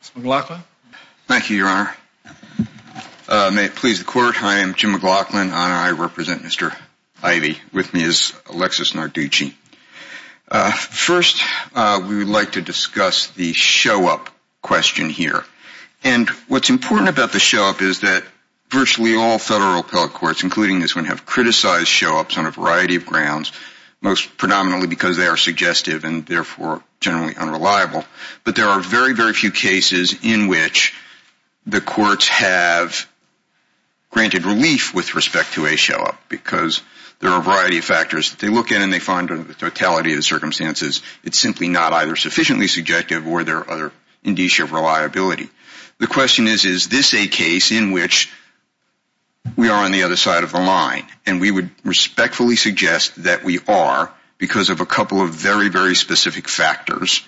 Thank you, Your Honor. May it please the Court, I am Jim McLaughlin, and I represent Mr. Ivey. With me is Alexis Narducci. First, we would like to discuss the show-up question here. And what's important about the show-up is that virtually all federal appellate courts, including this one, have criticized show-ups on a variety of grounds, most predominantly because they are suggestive and therefore generally unreliable. But there are very, very few cases in which the courts have granted relief with respect to a show-up, because there are a variety of factors that they look at and they find the totality of the circumstances it's simply not either sufficiently subjective or there are other indicia of reliability. The question is, is this a case in which we are on the other side of the line? And we would respectfully suggest that we are, because of a couple of very, very specific factors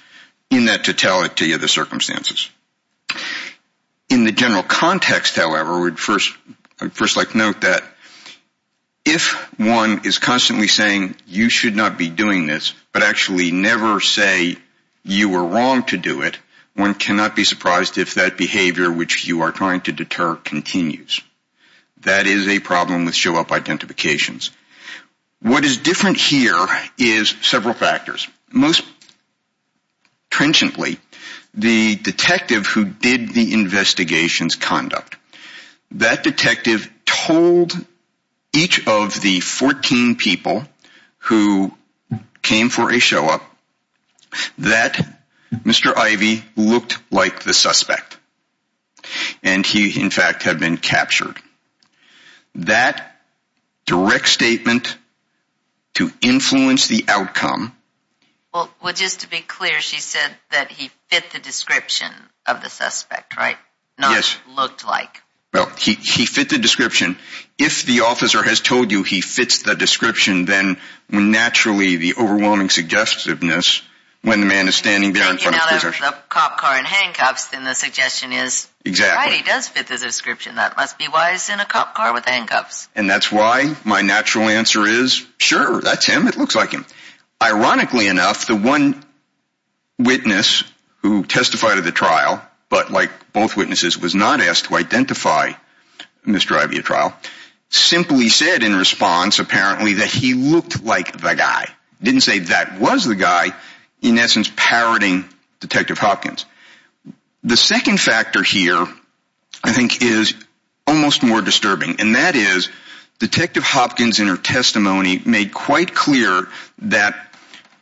in that totality of the circumstances. In the general context, however, I would first like to note that if one is constantly saying you should not be doing this, but actually never say you were wrong to do it, one cannot be surprised if that behavior which you are trying to deter continues. That is a problem with show-up identifications. What is different here is several factors. Most trenchantly, the detective who did the investigation's conduct, that detective told each of the 14 people who came for a show-up that Mr. Ivey looked like the suspect. And he, in fact, had been captured. That direct statement to influence the outcome... Well, just to be clear, she said that he fit the description of the suspect, right? Yes. Not looked like. Well, he fit the description. If the officer has told you he fits the description, then naturally, the overwhelming suggestiveness, when the man is standing there in front of the position... Now, if the cop car and handcuffs, then the suggestion is... Exactly. Right, he does fit the description. That must be why he's in a cop car with handcuffs. And that's why my natural answer is, sure, that's him. It looks like him. Ironically enough, the one witness who testified at the trial, but like both witnesses, was not asked to identify Mr. Ivey at trial, simply said in response, apparently, that he looked like the guy. Didn't say that was the guy, in essence, parroting Detective Hopkins. The second factor here, I think, is almost more disturbing. And that is, Detective Hopkins in her testimony made quite clear that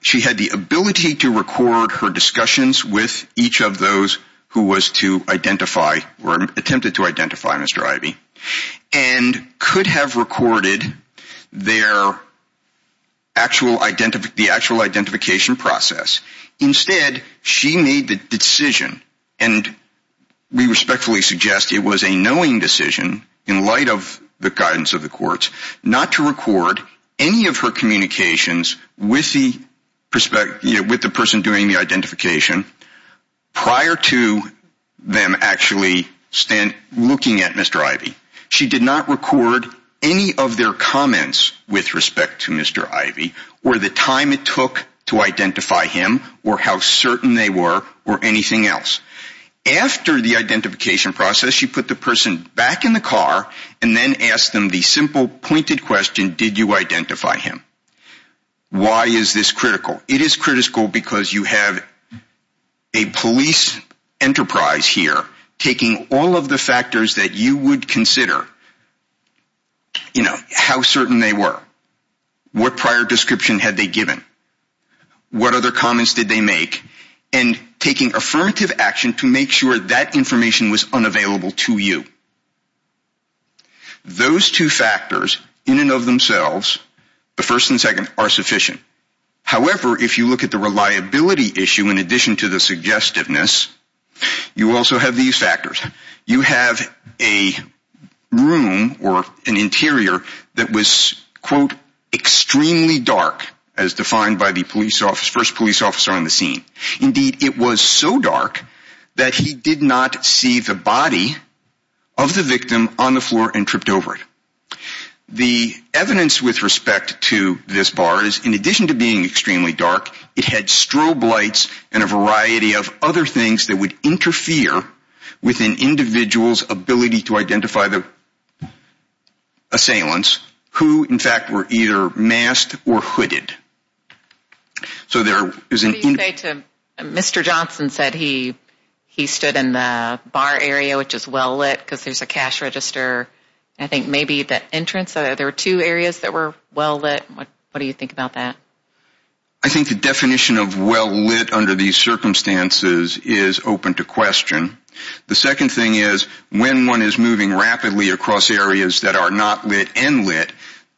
she had the ability to record her discussions with each of those who was to identify, or attempted to identify Mr. Ivey, and could have recorded the actual identification process. Instead, she made the decision, and we respectfully suggest it was a knowing decision, in light of the guidance of the courts, not to record any of her communications with the person doing the identification prior to them actually looking at Mr. Ivey. She did not record any of their comments with respect to Mr. Ivey, or the time it took to identify him, or how certain they were, or anything else. After the identification process, she put the person back in the car, and then asked them the simple, pointed question, did you identify him? Why is this critical? It is critical because you have a police enterprise here taking all of the factors that you would consider, you know, how certain they were, what prior description had they given, what other comments did they make, and taking affirmative action to make sure that information was unavailable to you. Those two factors, in and of themselves, the first and second, are sufficient. However, if you look at the reliability issue, in addition to the suggestiveness, you also have these factors. You have a room, or an interior, that was, quote, extremely dark, as defined by the first police officer on the scene. Indeed, it was so dark that he did not see the body of the victim on the floor and tripped over it. The evidence with respect to this bar is, in addition to being extremely dark, it had strobe lights and a variety of other things that would interfere with an individual's ability to identify the assailants who, in So there is an What do you say to, Mr. Johnson said he stood in the bar area, which is well lit, because there is a cash register. I think maybe the entrance, there were two areas that were well lit. What do you think about that? I think the definition of well lit under these circumstances is open to question. The second thing is, when one is moving rapidly across areas that are not lit and lit,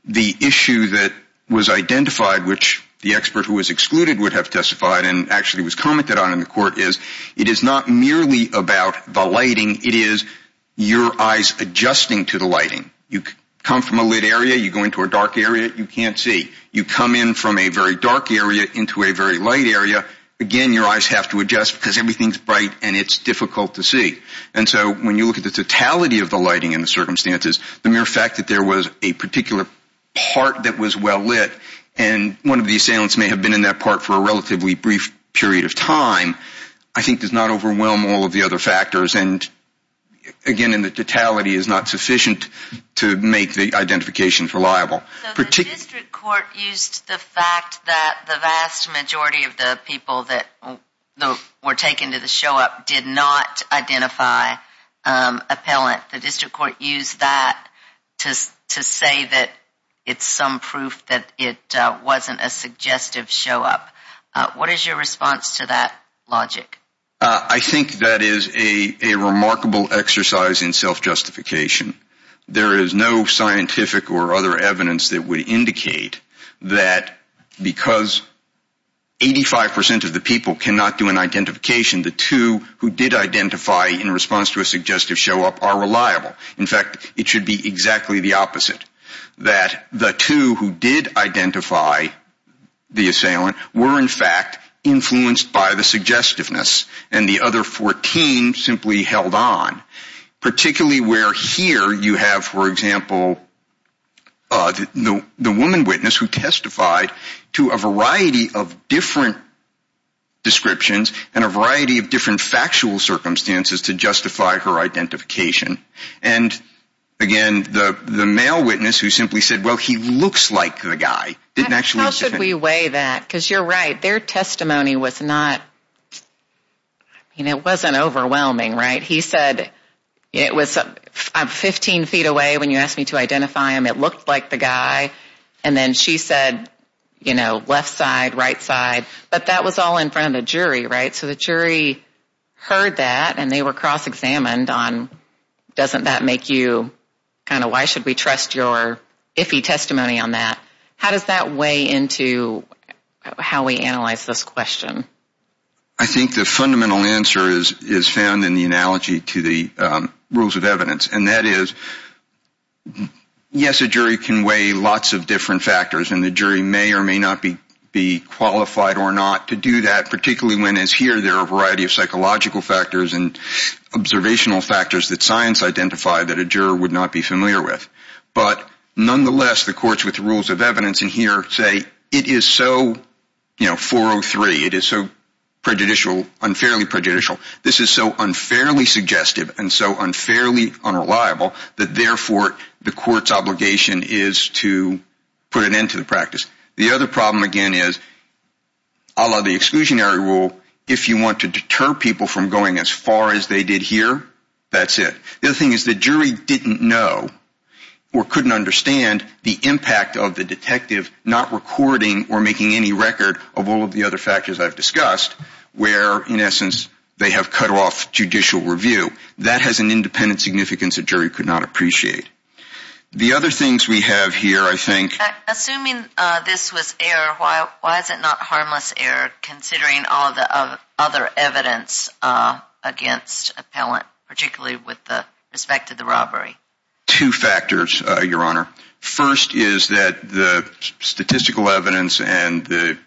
the issue that was identified, which the expert who was excluded would have testified and actually was commented on in the court is, it is not merely about the lighting. It is your eyes adjusting to the lighting. You come from a lit area. You go into a dark area. You can't see. You come in from a very dark area into a very light area. Again, your eyes have to adjust because everything is bright and it is difficult to see. And so when you look at the totality of the lighting in the circumstances, the mere fact that there was a particular part that was well lit and one of the assailants may have been in that part for a relatively brief period of time, I think does not overwhelm all of the other factors. And again, the totality is not sufficient to make the identifications reliable. So the district court used the fact that the vast majority of the people that were taken to the show-up did not identify appellant. The district court used that to say that it is some proof that it wasn't a suggestive show-up. What is your response to that logic? I think that is a remarkable exercise in self-justification. There is no scientific or other evidence that would indicate that because 85% of the people cannot do an identification, the two who did identify in response to a suggestive show-up are reliable. In fact, it should be exactly the opposite. That the two who did identify the assailant were in fact influenced by the suggestiveness and the other 14 simply held on. Particularly where here you have, for example, the woman witness who testified to a variety of different descriptions and a variety of different factual circumstances to justify her identification. And again, the male witness who simply said, well, he looks like the guy. How should we weigh that? Because you are right, their testimony was not, it wasn't overwhelming, right? He said, I'm 15 feet away when you asked me to identify him, it wasn't overwhelming. And then she said, you know, left side, right side. But that was all in front of the jury, right? So the jury heard that and they were cross-examined on doesn't that make you kind of why should we trust your iffy testimony on that? How does that weigh into how we analyze this question? I think the fundamental answer is found in the analogy to the rules of evidence. And that is, yes, a jury can weigh lots of different factors and the jury may or may not be qualified or not to do that, particularly when, as here, there are a variety of psychological factors and observational factors that science identified that a juror would not be familiar with. But nonetheless, the courts with the rules of evidence in here say, it is so, you know, 403, it is so prejudicial, unfairly prejudicial, this is so unfairly unreliable that, therefore, the court's obligation is to put an end to the practice. The other problem, again, is a la the exclusionary rule, if you want to deter people from going as far as they did here, that's it. The other thing is the jury didn't know or couldn't understand the impact of the detective not recording or making any record of all of the other factors I've discussed where, in essence, they have cut off judicial review. That has an independent significance a jury could not appreciate. The other things we have here, I think... Assuming this was error, why is it not harmless error, considering all of the other evidence against appellant, particularly with respect to the robbery? Two factors, Your Honor. First is that the statistical evidence and the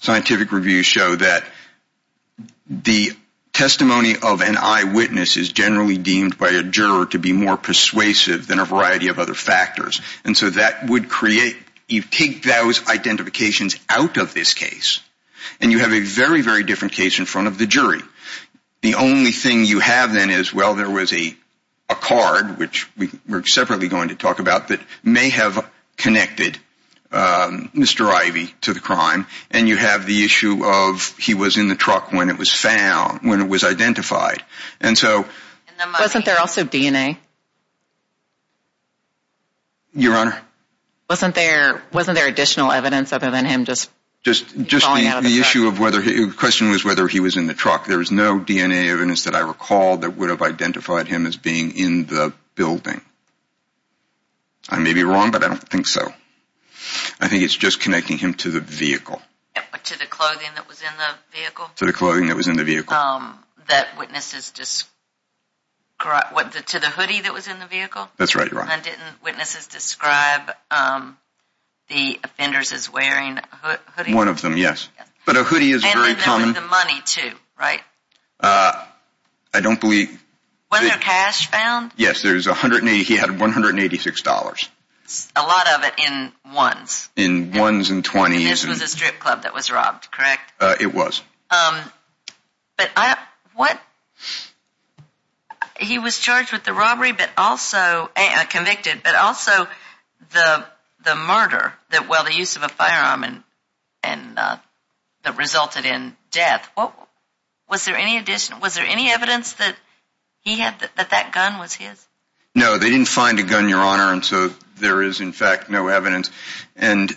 scientific review show that the testimony of an eyewitness is generally deemed by a juror to be more persuasive than a variety of other factors. And so that would create, you take those identifications out of this case, and you have a very, very different case in front of the jury. The only thing you have then is, well, there was a card, which we're separately going to talk about, that may have connected Mr. Ivey to the crime, and you have the issue of he was in the truck when it was found, when it was identified. And so... Wasn't there also DNA? Your Honor? Wasn't there additional evidence other than him just falling out of the truck? The question was whether he was in the truck. There was no DNA evidence that I recall that would have identified him as being in the building. I may be wrong, but I don't think so. I think it's just connecting him to the vehicle. To the clothing that was in the vehicle? To the clothing that was in the vehicle. That witnesses described... To the hoodie that was in the vehicle? That's right, Your Honor. And didn't witnesses describe the offenders as wearing a hoodie? One of them, yes. But a hoodie is very common... And then there was the money, too, right? I don't believe... Was there cash found? Yes, there was $186. A lot of it in ones. In ones and 20s. And this was a strip club that was robbed, correct? It was. But I... What... He was charged with the robbery, but also... Convicted, but also the murder... Well, the use of a firearm that resulted in death. Was there any evidence that he had... That that gun was his? No, they didn't find a gun, Your Honor, and so there is, in fact, no evidence. And,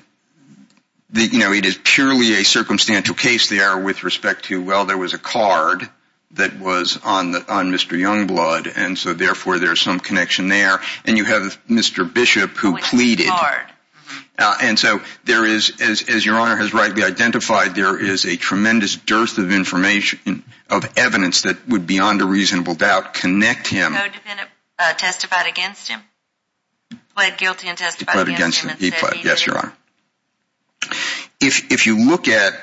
you know, it is purely a circumstantial case there with respect to, well, there was a card that was on Mr. Youngblood, and so therefore there's some connection there. And you have Mr. Bishop who pleaded... Oh, it's a card. And so there is, as Your Honor has rightly identified, there is a tremendous dearth of information, of evidence, that would beyond a reasonable doubt connect him... Code defendant testified against him. Pled guilty and testified against him and said he did it. Yes, Your Honor. If you look at,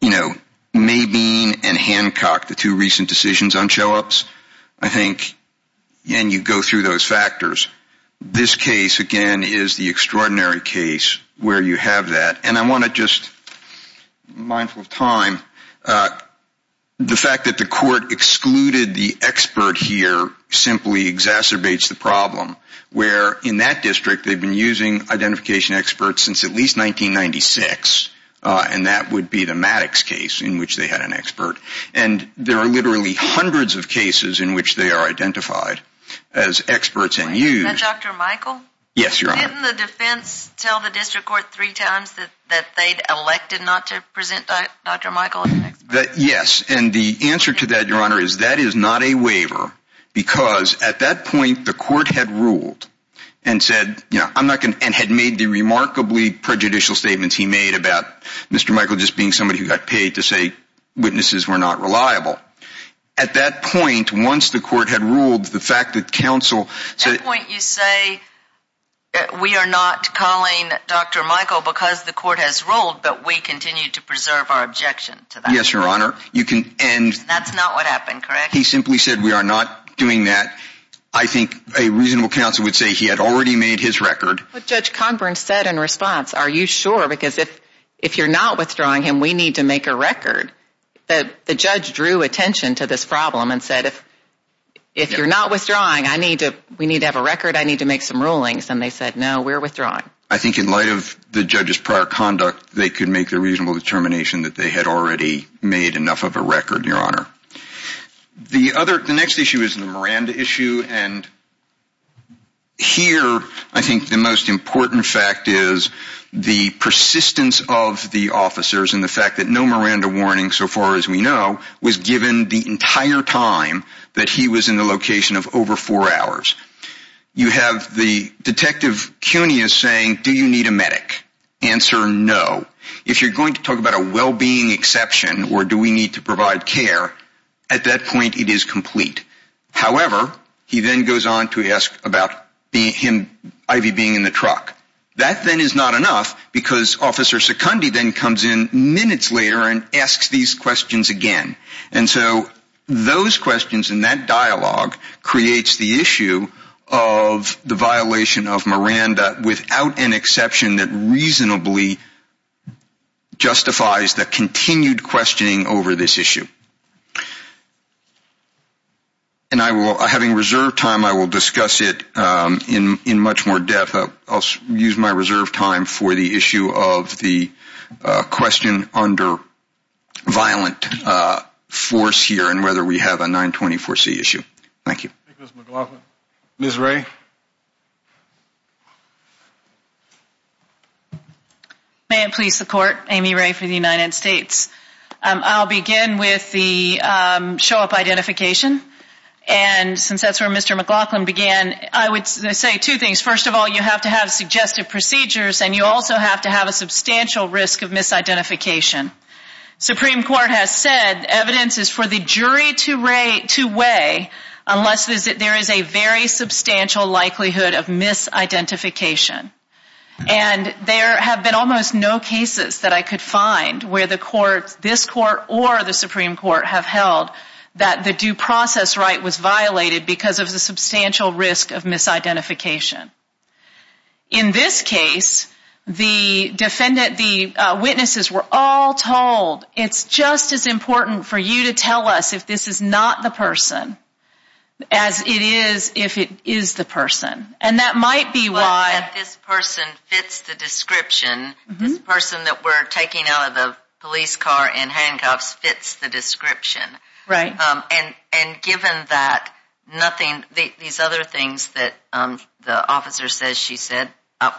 you know, Mabine and Hancock, the two recent decisions on show-ups, I think, and you go through those factors, this case, again, is the extraordinary case where you have that. And I want to just, mindful of time, the fact that the court excluded the expert here simply exacerbates the problem. Where in that district they've been using identification experts since at least 1996, and that would be the Maddox case in which they had an expert. And there are literally hundreds of cases in which they are identified as experts and used. Dr. Michael? Yes, Your Honor. Didn't the defense tell the district court three times that they'd elected not to present Dr. Michael as an expert? Yes, and the answer to that, Your Honor, is that is not a waiver because at that point the court had ruled and had made the remarkably prejudicial statements he made about Mr. Michael just being somebody who got paid to say witnesses were not reliable. At that point, once the court had ruled, the fact that counsel said At that point you say we are not calling Dr. Michael because the court has ruled, but we continue to preserve our objection to that. Yes, Your Honor. That's not what happened, correct? He simply said we are not doing that. I think a reasonable counsel would say he had already made his record. Judge Conbern said in response, are you sure? Because if you're not withdrawing him, we need to make a record. The judge drew attention to this problem and said if you're not withdrawing, we need to have a record, I need to make some rulings. And they said no, we're withdrawing. I think in light of the judge's prior conduct, they could make the reasonable determination that they had already made enough of a record, Your Honor. The next issue is the Miranda issue. And here I think the most important fact is the persistence of the officers and the fact that no Miranda warning so far as we know was given the entire time that he was in the location of over four hours. You have the Detective Cuneus saying, do you need a medic? Answer, no. If you're going to talk about a well-being exception, or do we need to provide care, at that point it is complete. However, he then goes on to ask about Ivy being in the truck. That then is not enough because Officer Secundi then comes in minutes later and asks these questions again. And so those questions and that dialogue creates the issue of the violation of Miranda without an exception that reasonably justifies the continued questioning over this issue. And having reserved time, I will discuss it in much more depth. I'll use my reserved time for the issue of the question under violent force here and whether we have a 924C issue. Thank you. Ms. McLaughlin. Ms. Ray. May it please the Court, Amy Ray for the United States. I'll begin with the show-up identification. And since that's where Mr. McLaughlin began, I would say two things. First of all, you have to have suggestive procedures, and you also have to have a substantial risk of misidentification. Supreme Court has said evidence is for the jury to weigh unless there is a very substantial likelihood of misidentification. And there have been almost no cases that I could find where this Court or the Supreme Court have held that the due process right was violated because of the substantial risk of misidentification. In this case, the witnesses were all told, it's just as important for you to tell us if this is not the person as it is if it is the person. And that might be why this person fits the description. This person that we're taking out of the police car in handcuffs fits the description. Right. And given that, nothing, these other things that the officer says she said,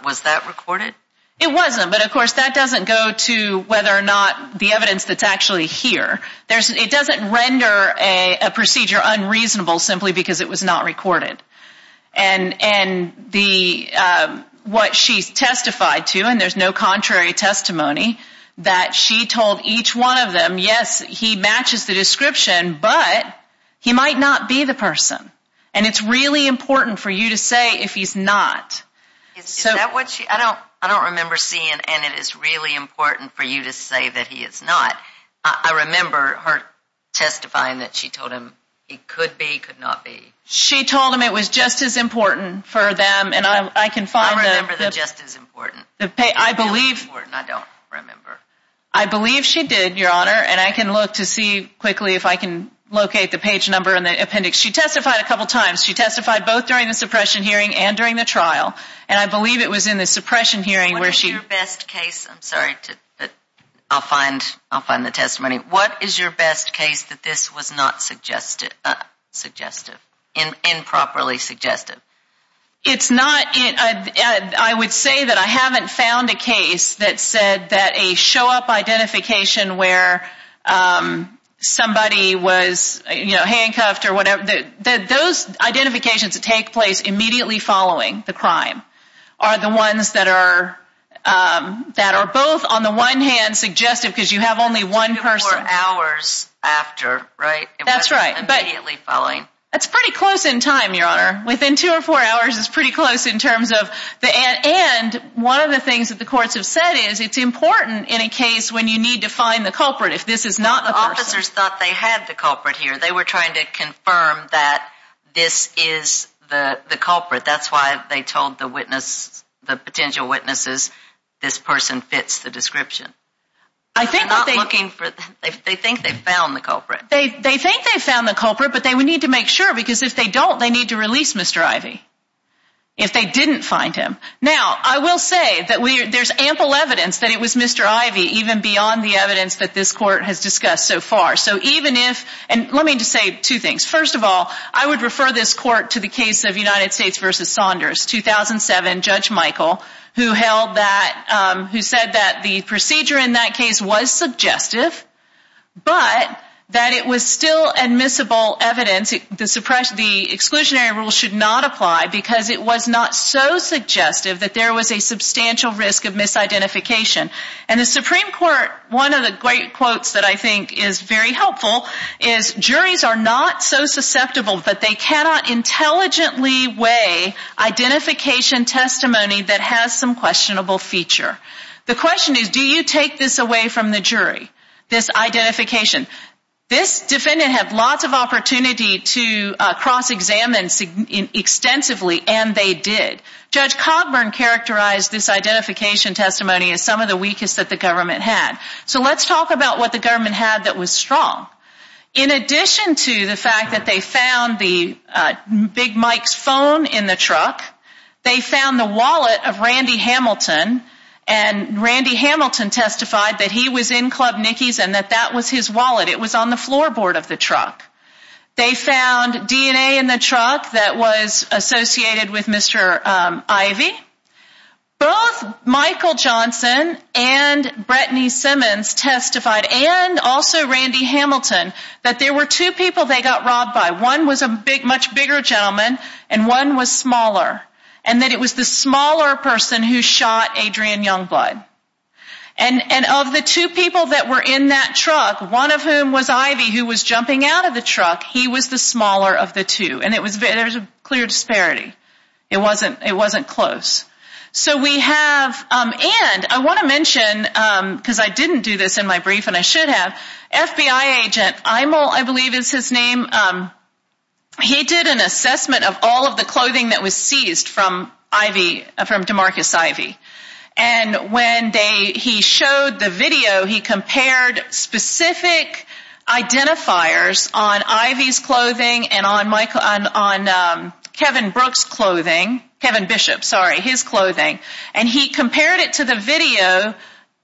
was that recorded? It wasn't, but, of course, that doesn't go to whether or not the evidence that's actually here. It doesn't render a procedure unreasonable simply because it was not recorded. And what she testified to, and there's no contrary testimony, that she told each one of them, yes, he matches the description, but he might not be the person. And it's really important for you to say if he's not. Is that what she, I don't remember seeing, and it is really important for you to say that he is not. I remember her testifying that she told him he could be, could not be. She told him it was just as important for them. I remember the just as important. I don't remember. I believe she did, Your Honor, and I can look to see quickly if I can locate the page number in the appendix. She testified a couple times. She testified both during the suppression hearing and during the trial, and I believe it was in the suppression hearing where she. What is your best case, I'm sorry, I'll find the testimony. What is your best case that this was not suggestive, improperly suggestive? It's not, I would say that I haven't found a case that said that a show-up identification where somebody was, you know, handcuffed or whatever. Those identifications that take place immediately following the crime are the ones that are, that are both on the one hand suggestive because you have only one person. Two or four hours after, right? That's right. Immediately following. That's pretty close in time, Your Honor. Within two or four hours is pretty close in terms of, and one of the things that the courts have said is it's important in a case when you need to find the culprit if this is not the person. The officers thought they had the culprit here. They were trying to confirm that this is the culprit. That's why they told the witness, the potential witnesses, this person fits the description. They're not looking for, they think they found the culprit. They think they found the culprit, but they would need to make sure because if they don't, they need to release Mr. Ivey if they didn't find him. Now, I will say that there's ample evidence that it was Mr. Ivey, even beyond the evidence that this court has discussed so far. So even if, and let me just say two things. First of all, I would refer this court to the case of United States v. Saunders, 2007, Judge Michael, who held that, who said that the procedure in that case was suggestive, but that it was still admissible evidence, the exclusionary rule should not apply because it was not so suggestive that there was a substantial risk of misidentification. And the Supreme Court, one of the great quotes that I think is very helpful, is juries are not so susceptible that they cannot intelligently weigh identification testimony that has some questionable feature. The question is, do you take this away from the jury, this identification? This defendant had lots of opportunity to cross-examine extensively, and they did. Judge Cogburn characterized this identification testimony as some of the weakest that the government had. So let's talk about what the government had that was strong. In addition to the fact that they found the Big Mike's phone in the truck, they found the wallet of Randy Hamilton, and Randy Hamilton testified that he was in Club Nicky's and that that was his wallet. It was on the floorboard of the truck. They found DNA in the truck that was associated with Mr. Ivy. Both Michael Johnson and Brittany Simmons testified, and also Randy Hamilton, that there were two people they got robbed by. One was a much bigger gentleman, and one was smaller, and that it was the smaller person who shot Adrian Youngblood. And of the two people that were in that truck, one of whom was Ivy, who was jumping out of the truck, he was the smaller of the two. And there was a clear disparity. It wasn't close. So we have, and I want to mention, because I didn't do this in my brief and I should have, FBI agent Imel, I believe is his name, he did an assessment of all of the clothing that was seized from DeMarcus Ivy. And when he showed the video, he compared specific identifiers on Ivy's clothing and on Kevin Bishop's clothing, and he compared it to the video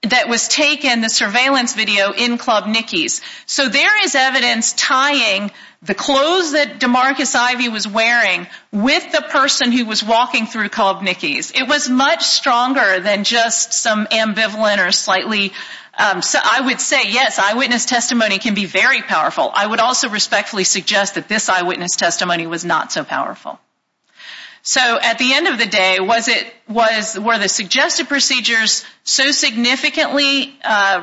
that was taken, the surveillance video, in Club Nicky's. So there is evidence tying the clothes that DeMarcus Ivy was wearing with the person who was walking through Club Nicky's. It was much stronger than just some ambivalent or slightly, I would say, yes, eyewitness testimony can be very powerful. I would also respectfully suggest that this eyewitness testimony was not so powerful. So at the end of the day, were the suggested procedures so significantly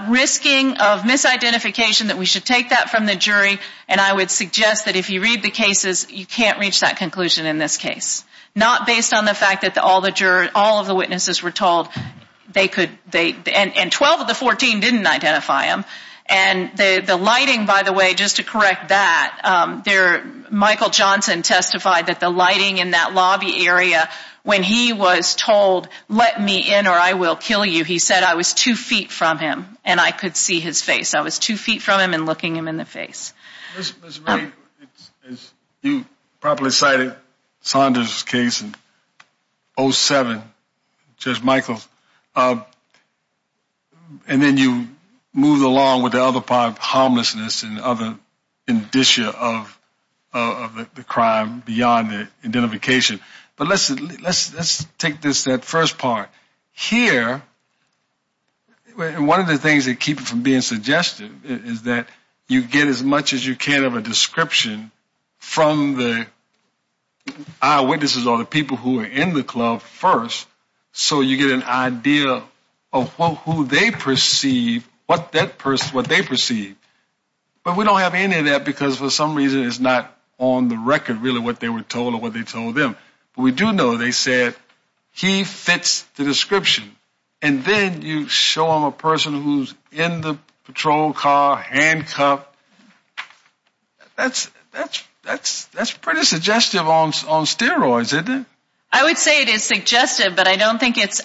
risking of misidentification that we should take that from the jury? And I would suggest that if you read the cases, you can't reach that conclusion in this case. Not based on the fact that all of the witnesses were told they could, and 12 of the 14 didn't identify him. And the lighting, by the way, just to correct that, Michael Johnson testified that the lighting in that lobby area, when he was told, let me in or I will kill you, he said, I was two feet from him and I could see his face. I was two feet from him and looking him in the face. Ms. Ray, as you properly cited Saunders' case in 07, Judge Michael, and then you moved along with the other part of homelessness and other indicia of the crime beyond the identification. But let's take this first part. Here, one of the things that keep it from being suggested is that you get as much as you can of a description from the eyewitnesses or the people who are in the club first so you get an idea of who they perceive, what they perceive. But we don't have any of that because for some reason it's not on the record, really, what they were told or what they told them. But we do know they said he fits the description. And then you show them a person who's in the patrol car, handcuffed. That's pretty suggestive on steroids, isn't it? I would say it is suggestive, but I don't think it's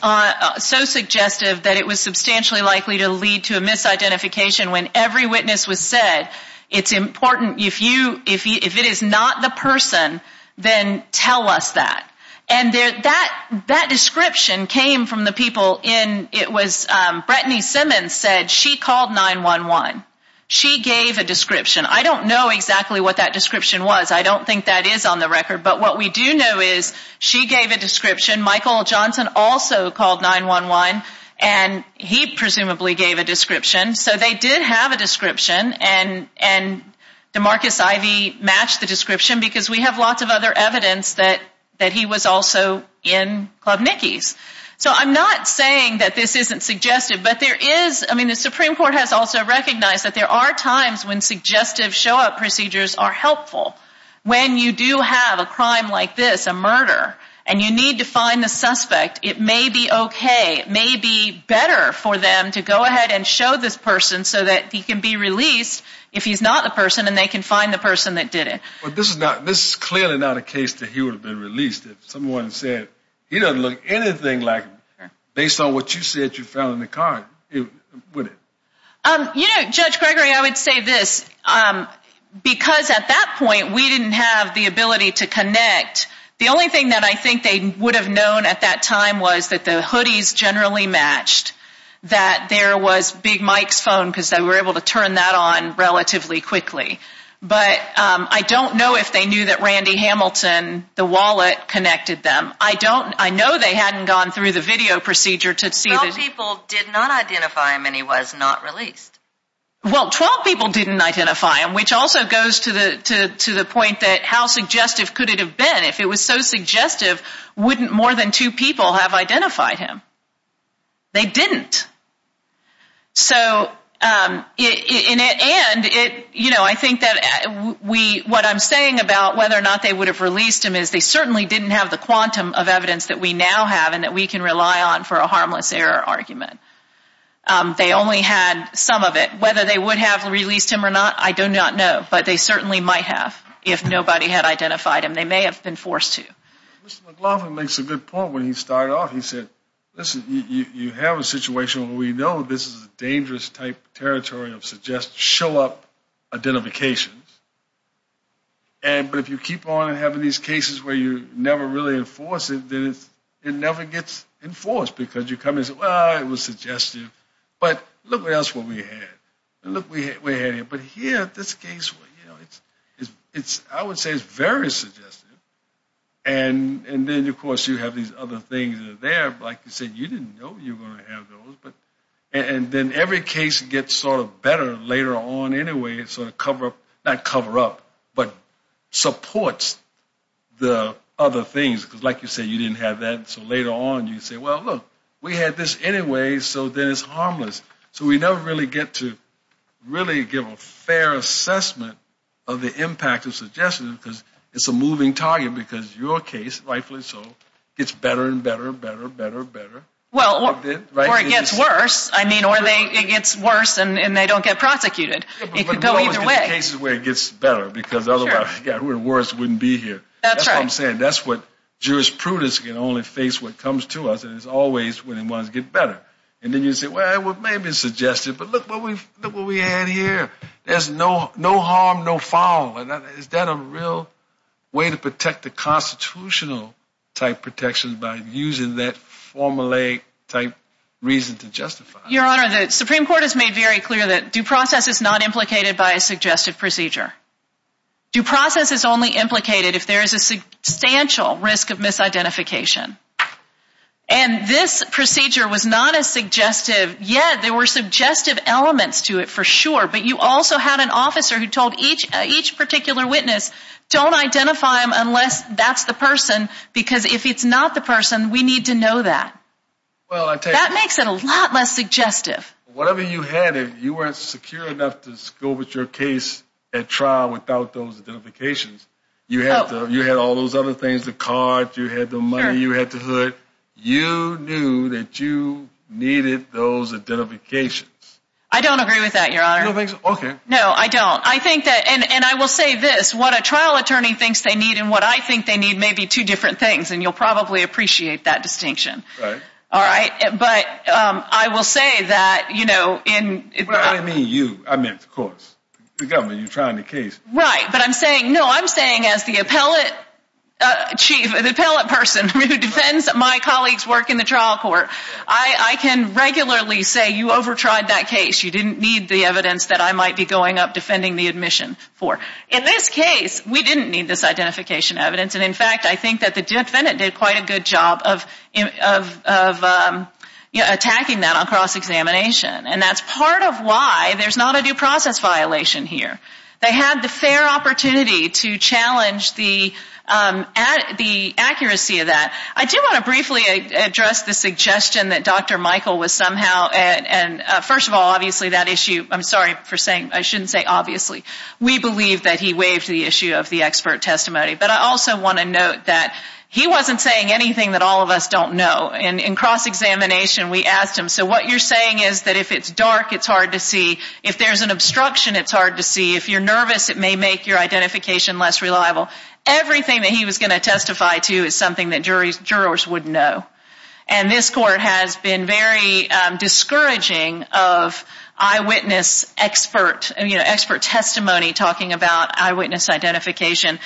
so suggestive that it was substantially likely to lead to a misidentification when every witness was said, it's important, if it is not the person, then tell us that. And that description came from the people in, it was, Brettany Simmons said she called 911. She gave a description. I don't know exactly what that description was. I don't think that is on the record. But what we do know is she gave a description. Michael Johnson also called 911, and he presumably gave a description. So they did have a description, and DeMarcus Ivey matched the description because we have lots of other evidence that he was also in Club Nicky's. So I'm not saying that this isn't suggestive, but there is, I mean, the Supreme Court has also recognized that there are times when suggestive show-up procedures are helpful. When you do have a crime like this, a murder, and you need to find the suspect, it may be okay, it may be better for them to go ahead and show this person so that he can be released if he's not the person and they can find the person that did it. But this is clearly not a case that he would have been released if someone said he doesn't look anything like him based on what you said you found in the car, would it? You know, Judge Gregory, I would say this. Because at that point, we didn't have the ability to connect. The only thing that I think they would have known at that time was that the hoodies generally matched, that there was Big Mike's phone because they were able to turn that on relatively quickly. But I don't know if they knew that Randy Hamilton, the wallet, connected them. I know they hadn't gone through the video procedure to see that. Twelve people did not identify him, and he was not released. Well, twelve people didn't identify him, which also goes to the point that how suggestive could it have been? If it was so suggestive, wouldn't more than two people have identified him? They didn't. So, and I think that what I'm saying about whether or not they would have released him is they certainly didn't have the quantum of evidence that we now have and that we can rely on for a harmless error argument. They only had some of it. Whether they would have released him or not, I do not know. But they certainly might have if nobody had identified him. They may have been forced to. Mr. McLaughlin makes a good point when he started off. He said, listen, you have a situation where we know this is a dangerous type of territory of suggestive, show-up identifications, but if you keep on having these cases where you never really enforce it, it never gets enforced because you come in and say, well, it was suggestive. But look what else we had. Look what we had here. But here, this case, I would say it's very suggestive. And then, of course, you have these other things that are there. Like you said, you didn't know you were going to have those. And then every case gets sort of better later on anyway. It sort of cover-up, not cover-up, but supports the other things because, like you said, you didn't have that. So later on, you say, well, look, we had this anyway, so then it's harmless. So we never really get to really give a fair assessment of the impact of suggestive because it's a moving target because your case, rightfully so, gets better and better and better and better and better. Well, or it gets worse. I mean, or it gets worse and they don't get prosecuted. It could go either way. But there are always cases where it gets better because otherwise, worse wouldn't be here. That's right. I understand. That's what jurisprudence can only face when it comes to us, and it's always when it wants to get better. And then you say, well, it may have been suggestive, but look what we had here. There's no harm, no foul. Is that a real way to protect the constitutional-type protection by using that formulaic-type reason to justify it? Your Honor, the Supreme Court has made very clear that due process is not implicated by a suggestive procedure. Due process is only implicated if there is a substantial risk of misidentification. And this procedure was not as suggestive, yet there were suggestive elements to it for sure. But you also had an officer who told each particular witness, don't identify him unless that's the person because if it's not the person, we need to know that. That makes it a lot less suggestive. Whatever you had, you weren't secure enough to go with your case at trial without those identifications. You had all those other things, the card, you had the money, you had the hood. You knew that you needed those identifications. I don't agree with that, Your Honor. Okay. No, I don't. And I will say this, what a trial attorney thinks they need and what I think they need may be two different things, and you'll probably appreciate that distinction. Right. But I will say that, you know, in... I didn't mean you. I meant the courts, the government. You're trying the case. Right. But I'm saying, no, I'm saying as the appellate chief, the appellate person who defends my colleagues' work in the trial court, I can regularly say you over-tried that case. You didn't need the evidence that I might be going up defending the admission for. In this case, we didn't need this identification evidence, and, in fact, I think that the defendant did quite a good job of attacking that on cross-examination, and that's part of why there's not a due process violation here. They had the fair opportunity to challenge the accuracy of that. I do want to briefly address the suggestion that Dr. Michael was somehow, and first of all, obviously, that issue, I'm sorry for saying I shouldn't say obviously, we believe that he waived the issue of the expert testimony. But I also want to note that he wasn't saying anything that all of us don't know. In cross-examination, we asked him, so what you're saying is that if it's dark, it's hard to see. If there's an obstruction, it's hard to see. If you're nervous, it may make your identification less reliable. Everything that he was going to testify to is something that jurors would know, and this court has been very discouraging of eyewitness expert testimony talking about eyewitness identification.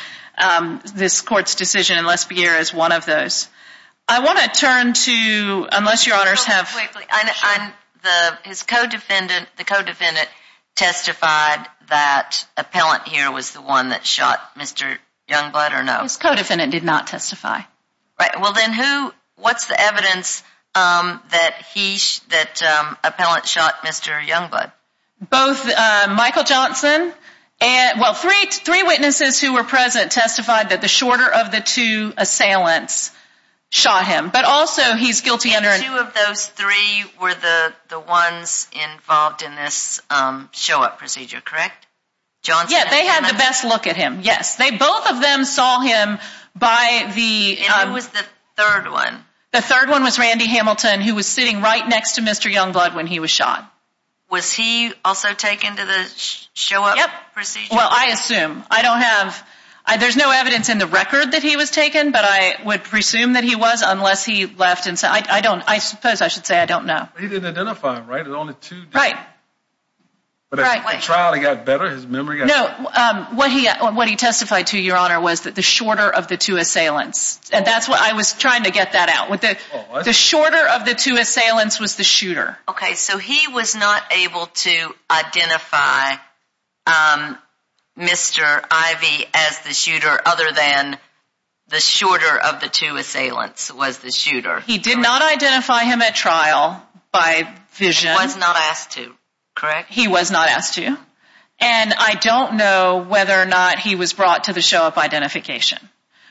This court's decision in Lespierre is one of those. I want to turn to, unless your honors have- His co-defendant testified that appellant here was the one that shot Mr. Youngblood, or no? His co-defendant did not testify. Right, well then who, what's the evidence that appellant shot Mr. Youngblood? Both Michael Johnson and, well, three witnesses who were present testified that the shorter of the two assailants shot him, but also he's guilty under- And two of those three were the ones involved in this show-up procedure, correct? Yeah, they had the best look at him, yes. Both of them saw him by the- And who was the third one? The third one was Randy Hamilton, who was sitting right next to Mr. Youngblood when he was shot. Was he also taken to the show-up procedure? Well, I assume. I don't have- There's no evidence in the record that he was taken, but I would presume that he was unless he left and- I don't- I suppose I should say I don't know. He didn't identify him, right? Right. But as the trial got better, his memory got better. No, what he testified to, your honor, was that the shorter of the two assailants. And that's what- I was trying to get that out. The shorter of the two assailants was the shooter. Okay, so he was not able to identify Mr. Ivey as the shooter other than the shorter of the two assailants was the shooter. He did not identify him at trial by vision. Was not asked to, correct? He was not asked to. And I don't know whether or not he was brought to the show-up identification.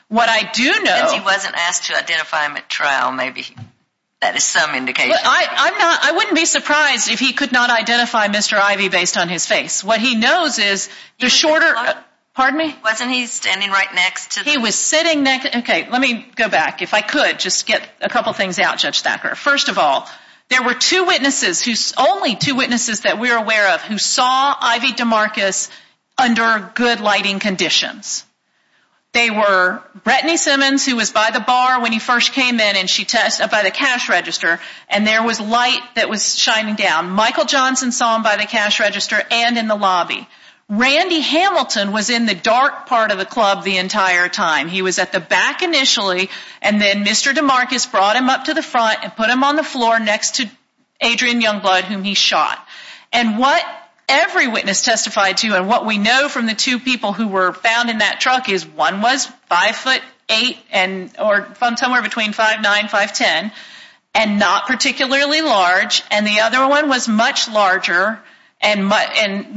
What I do know- Since he wasn't asked to identify him at trial, maybe that is some indication. I'm not- I wouldn't be surprised if he could not identify Mr. Ivey based on his face. What he knows is the shorter- Pardon me? Wasn't he standing right next to- He was sitting next- Okay, let me go back. If I could, just get a couple things out, Judge Thacker. First of all, there were two witnesses who- only two witnesses that we're aware of who saw Ivey DeMarcus under good lighting conditions. They were Brittany Simmons who was by the bar when he first came in by the cash register and there was light that was shining down. Michael Johnson saw him by the cash register and in the lobby. Randy Hamilton was in the dark part of the club the entire time. He was at the back initially and then Mr. DeMarcus brought him up to the front and put him on the floor next to Adrian Youngblood whom he shot. And what every witness testified to and what we know from the two people who were found in that truck is one was 5'8 or somewhere between 5'9, 5'10 and not particularly large and the other one was much larger and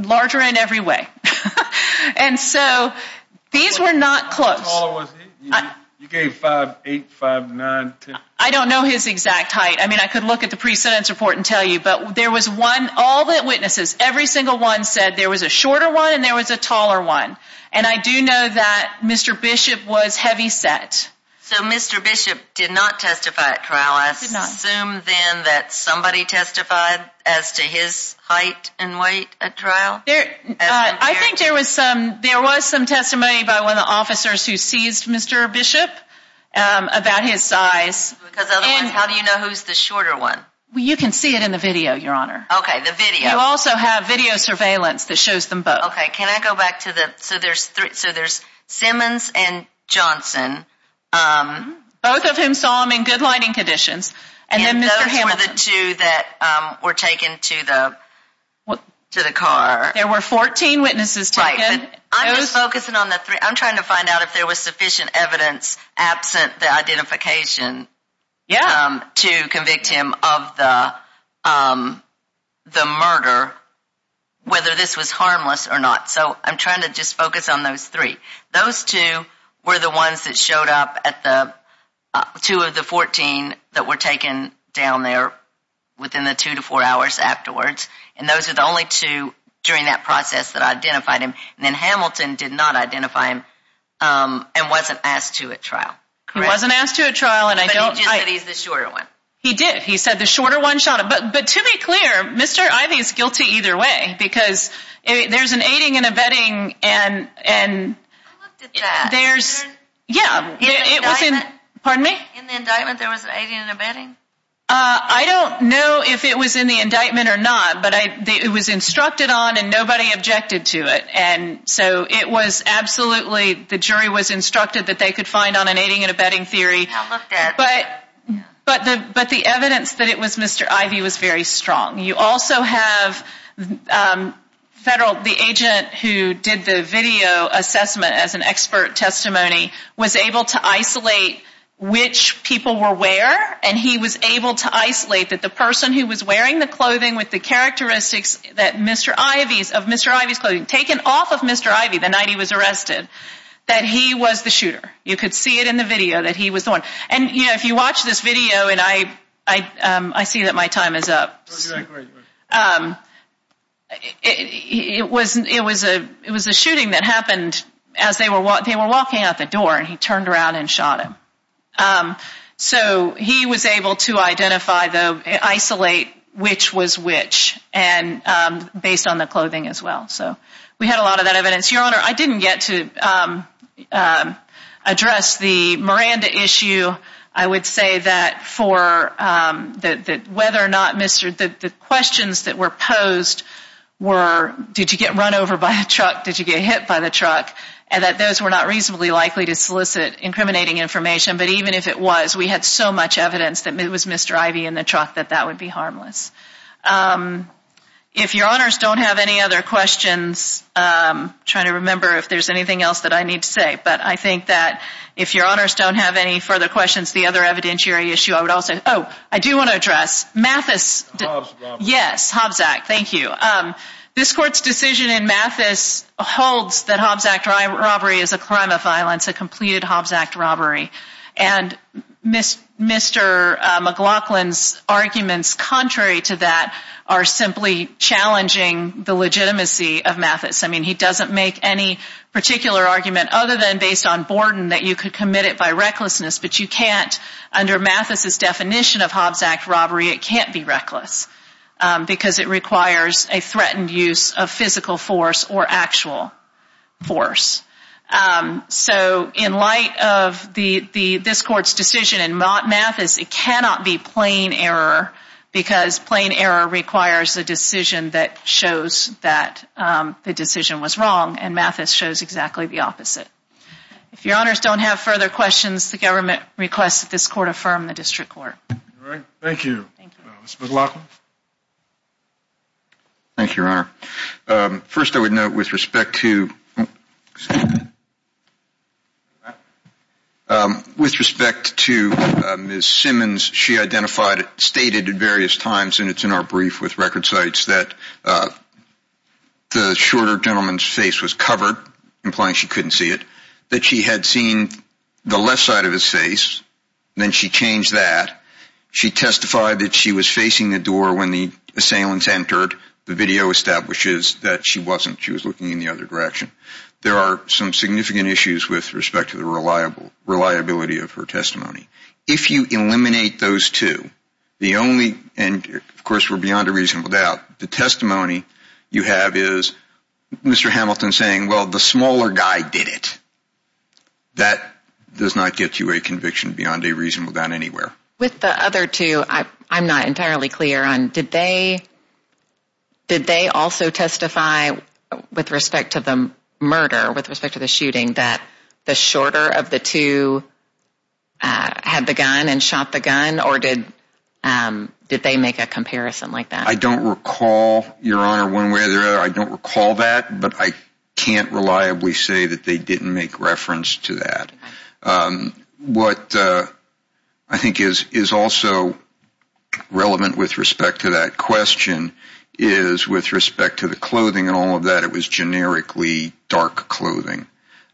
larger in every way. And so these were not close. How tall was he? You gave 5'8, 5'9, 10. I don't know his exact height. I mean I could look at the precedence report and tell you, but there was one- all the witnesses, every single one said there was a shorter one and there was a taller one. And I do know that Mr. Bishop was heavyset. So Mr. Bishop did not testify at trial. I assume then that somebody testified as to his height and weight at trial? I think there was some testimony by one of the officers who seized Mr. Bishop about his size. Because otherwise how do you know who's the shorter one? You can see it in the video, Your Honor. Okay, the video. You also have video surveillance that shows them both. Okay, can I go back to the- so there's Simmons and Johnson. Both of whom saw him in good lighting conditions. And those were the two that were taken to the car. There were 14 witnesses taken. I'm just focusing on the three. I'm trying to find out if there was sufficient evidence absent the identification to convict him of the murder, whether this was harmless or not. So I'm trying to just focus on those three. Those two were the ones that showed up at the- two of the 14 that were taken down there within the two to four hours afterwards. And those were the only two during that process that identified him. And then Hamilton did not identify him and wasn't asked to at trial. Correct. He wasn't asked to at trial and I don't- But he just said he's the shorter one. He did. He said the shorter one shot him. But to be clear, Mr. Ivey is guilty either way. Because there's an aiding and abetting and- I looked at that. There's- yeah. In the indictment- Pardon me? In the indictment there was an aiding and abetting? I don't know if it was in the indictment or not. But it was instructed on and nobody objected to it. And so it was absolutely- the jury was instructed that they could find on an aiding and abetting theory. I looked at it. But the evidence that it was Mr. Ivey was very strong. You also have federal- the agent who did the video assessment as an expert testimony was able to isolate which people were where. And he was able to isolate that the person who was wearing the clothing with the the night he was arrested, that he was the shooter. You could see it in the video that he was the one. And, you know, if you watch this video- and I see that my time is up. Oh, you're right. It was a shooting that happened as they were walking out the door and he turned around and shot him. So he was able to identify the- isolate which was which based on the clothing as well. So we had a lot of that evidence. Your Honor, I didn't get to address the Miranda issue. I would say that for- that whether or not the questions that were posed were did you get run over by a truck, did you get hit by the truck, and that those were not reasonably likely to solicit incriminating information. But even if it was, we had so much evidence that it was Mr. Ivey in the truck that that would be harmless. If Your Honors don't have any other questions, I'm trying to remember if there's anything else that I need to say, but I think that if Your Honors don't have any further questions, the other evidentiary issue I would also- Oh, I do want to address Mathis- Hobbs Act. Yes, Hobbs Act. Thank you. This Court's decision in Mathis holds that Hobbs Act robbery is a crime of violence, a completed Hobbs Act robbery. And Mr. McLaughlin's arguments contrary to that are simply challenging the legitimacy of Mathis. I mean, he doesn't make any particular argument other than based on Borden that you could commit it by recklessness, but you can't. Under Mathis's definition of Hobbs Act robbery, it can't be reckless because it requires a threatened use of physical force or actual force. So in light of this Court's decision in Mathis, it cannot be plain error because plain error requires a decision that shows that the decision was wrong, and Mathis shows exactly the opposite. If Your Honors don't have further questions, the government requests that this Court affirm the District Court. All right. Thank you. Mr. McLaughlin. Thank you, Your Honor. First, I would note with respect to Ms. Simmons, she stated at various times, and it's in our brief with record sites, that the shorter gentleman's face was covered, implying she couldn't see it, that she had seen the left side of his face. Then she changed that. She testified that she was facing the door when the assailants entered. The video establishes that she wasn't. She was looking in the other direction. There are some significant issues with respect to the reliability of her testimony. If you eliminate those two, and of course we're beyond a reasonable doubt, the testimony you have is Mr. Hamilton saying, well, the smaller guy did it. That does not get you a conviction beyond a reasonable doubt anywhere. With the other two, I'm not entirely clear. Did they also testify with respect to the murder, with respect to the shooting, that the shorter of the two had the gun and shot the gun, or did they make a comparison like that? I don't recall, Your Honor, one way or the other. I don't recall that, but I can't reliably say that they didn't make reference to that. What I think is also relevant with respect to that question is with respect to the clothing and all of that, it was generically dark clothing.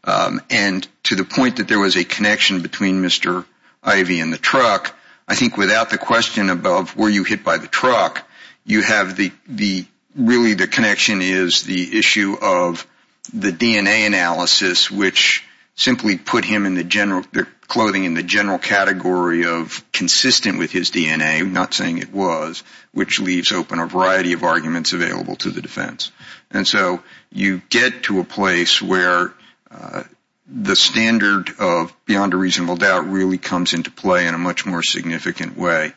To the point that there was a connection between Mr. Ivey and the truck, I think without the question above, were you hit by the truck, you have really the connection is the issue of the DNA analysis, which simply put clothing in the general category of consistent with his DNA, not saying it was, which leaves open a variety of arguments available to the defense. And so you get to a place where the standard of beyond a reasonable doubt really comes into play in a much more significant way.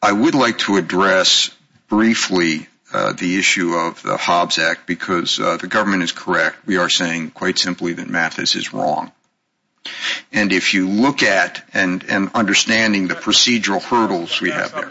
I would like to address briefly the issue of the Hobbs Act, because the government is correct. We are saying quite simply that Mathis is wrong. And if you look at and understanding the procedural hurdles we have there.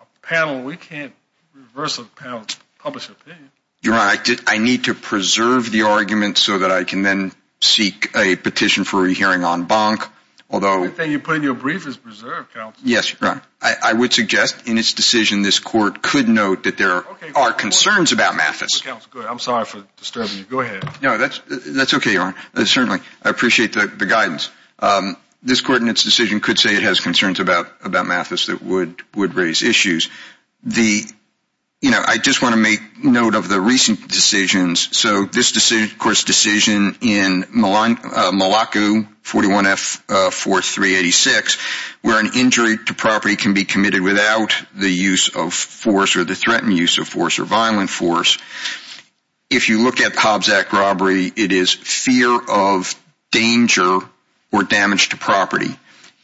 A panel, we can't reverse a panel to publish an opinion. Your Honor, I need to preserve the argument so that I can then seek a petition for a hearing on Bonk. The only thing you put in your brief is preserve, counsel. Yes, Your Honor. I would suggest in its decision this court could note that there are concerns about Mathis. Counsel, go ahead. I'm sorry for disturbing you. Go ahead. No, that's okay, Your Honor. Certainly. I appreciate the guidance. This court in its decision could say it has concerns about Mathis that would raise issues. I just want to make note of the recent decisions. So this decision, of course, decision in Malacu, 41F, 4386, where an injury to property can be committed without the use of force If you look at Hobbs Act robbery, it is fear of danger or damage to property.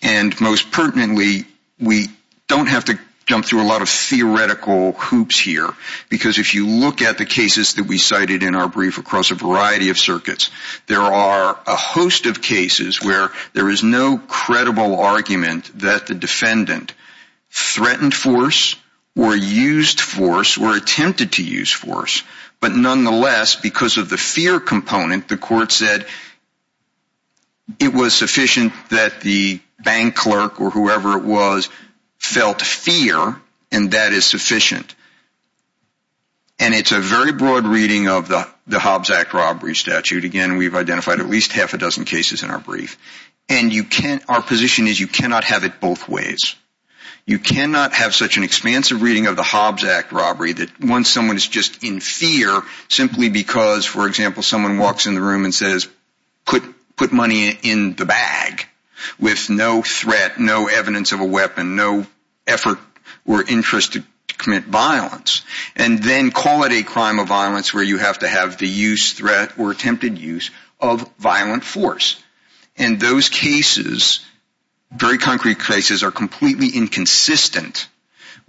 And most pertinently, we don't have to jump through a lot of theoretical hoops here because if you look at the cases that we cited in our brief across a variety of circuits, there are a host of cases where there is no credible argument that the defendant threatened force or used force or attempted to use force. But nonetheless, because of the fear component, the court said it was sufficient that the bank clerk or whoever it was felt fear and that is sufficient. And it's a very broad reading of the Hobbs Act robbery statute. Again, we've identified at least half a dozen cases in our brief. And our position is you cannot have it both ways. You cannot have such an expansive reading of the Hobbs Act robbery that once someone is just in fear simply because, for example, someone walks in the room and says put money in the bag with no threat, no evidence of a weapon, no effort or interest to commit violence and then call it a crime of violence where you have to have the use, threat, or attempted use of violent force. And those cases, very concrete cases, are completely inconsistent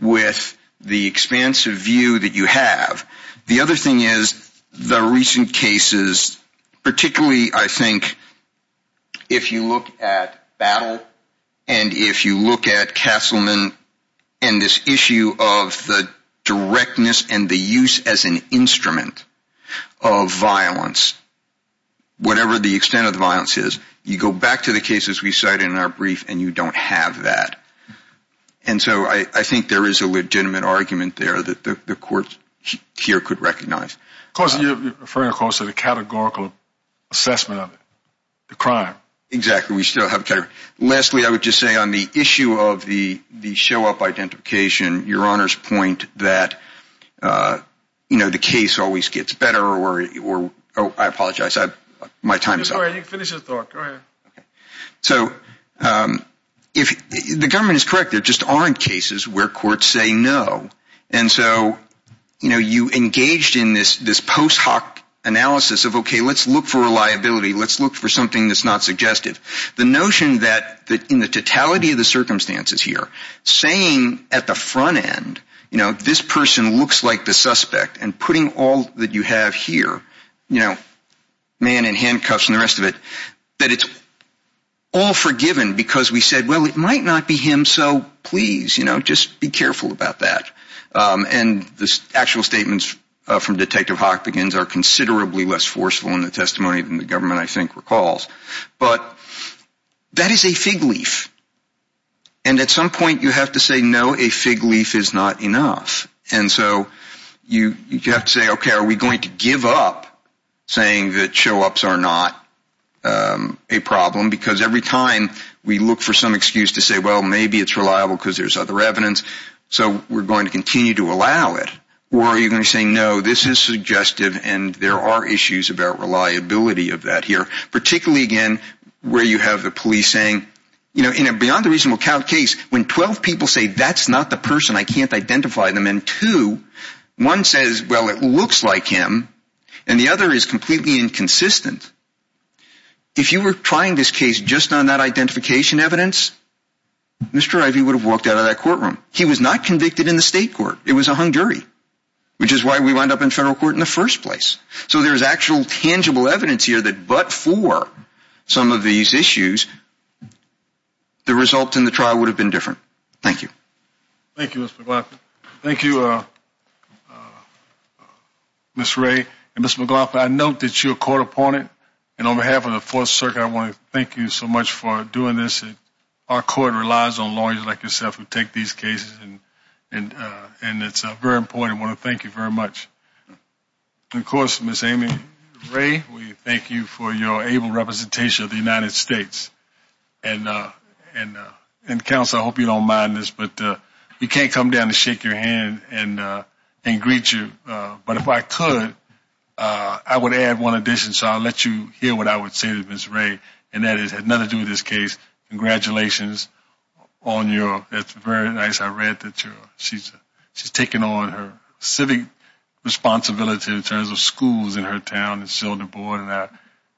with the expansive view that you have. The other thing is the recent cases, particularly, I think, if you look at battle and if you look at Castleman and this issue of the directness and the use as an instrument of violence, whatever the extent of the violence is, you go back to the cases we cited in our brief and you don't have that. And so I think there is a legitimate argument there that the court here could recognize. Of course, you're referring, of course, to the categorical assessment of it, the crime. Exactly. We still have categorical. Lastly, I would just say on the issue of the show-up identification, your Honor's point that the case always gets better. I apologize. My time is up. Go ahead. You can finish your talk. Go ahead. So the government is correct. There just aren't cases where courts say no. And so you engaged in this post hoc analysis of okay, let's look for reliability. Let's look for something that's not suggestive. The notion that in the totality of the circumstances here, saying at the front end, you know, this person looks like the suspect and putting all that you have here, you know, man in handcuffs and the rest of it, that it's all forgiven because we said, well, it might not be him, so please, you know, just be careful about that. And the actual statements from Detective Hochbegin are considerably less forceful in the testimony than the government I think recalls. But that is a fig leaf. And at some point you have to say, no, a fig leaf is not enough. And so you have to say, okay, are we going to give up saying that show-ups are not a problem because every time we look for some excuse to say, well, maybe it's reliable because there's other evidence, so we're going to continue to allow it? Or are you going to say, no, this is suggestive and there are issues about reliability of that here, particularly, again, where you have the police saying, you know, beyond the reasonable count case, when 12 people say that's not the person, I can't identify them, and two, one says, well, it looks like him, and the other is completely inconsistent. If you were trying this case just on that identification evidence, Mr. Ivey would have walked out of that courtroom. He was not convicted in the state court. It was a hung jury, which is why we wound up in federal court in the first place. So there's actual tangible evidence here that but for some of these issues, the result in the trial would have been different. Thank you. Thank you, Mr. McLaughlin. Thank you, Ms. Ray and Ms. McLaughlin. I note that you're a court opponent, and on behalf of the Fourth Circuit, I want to thank you so much for doing this. Our court relies on lawyers like yourself who take these cases, and it's very important. I want to thank you very much. And, of course, Ms. Amy Ray, we thank you for your able representation of the United States. And, counsel, I hope you don't mind this, but you can't come down and shake your hand and greet you, but if I could, I would add one addition, so I'll let you hear what I would say to Ms. Ray, and that is it has nothing to do with this case. Congratulations on your ‑‑ that's very nice. I read that she's taking on her civic responsibility in terms of schools in her town, and she's on the board,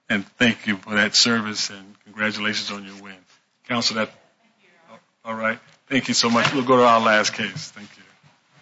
and thank you for that service, and congratulations on your win. Counsel, that ‑‑ all right. Thank you so much. We'll go to our last case. Thank you.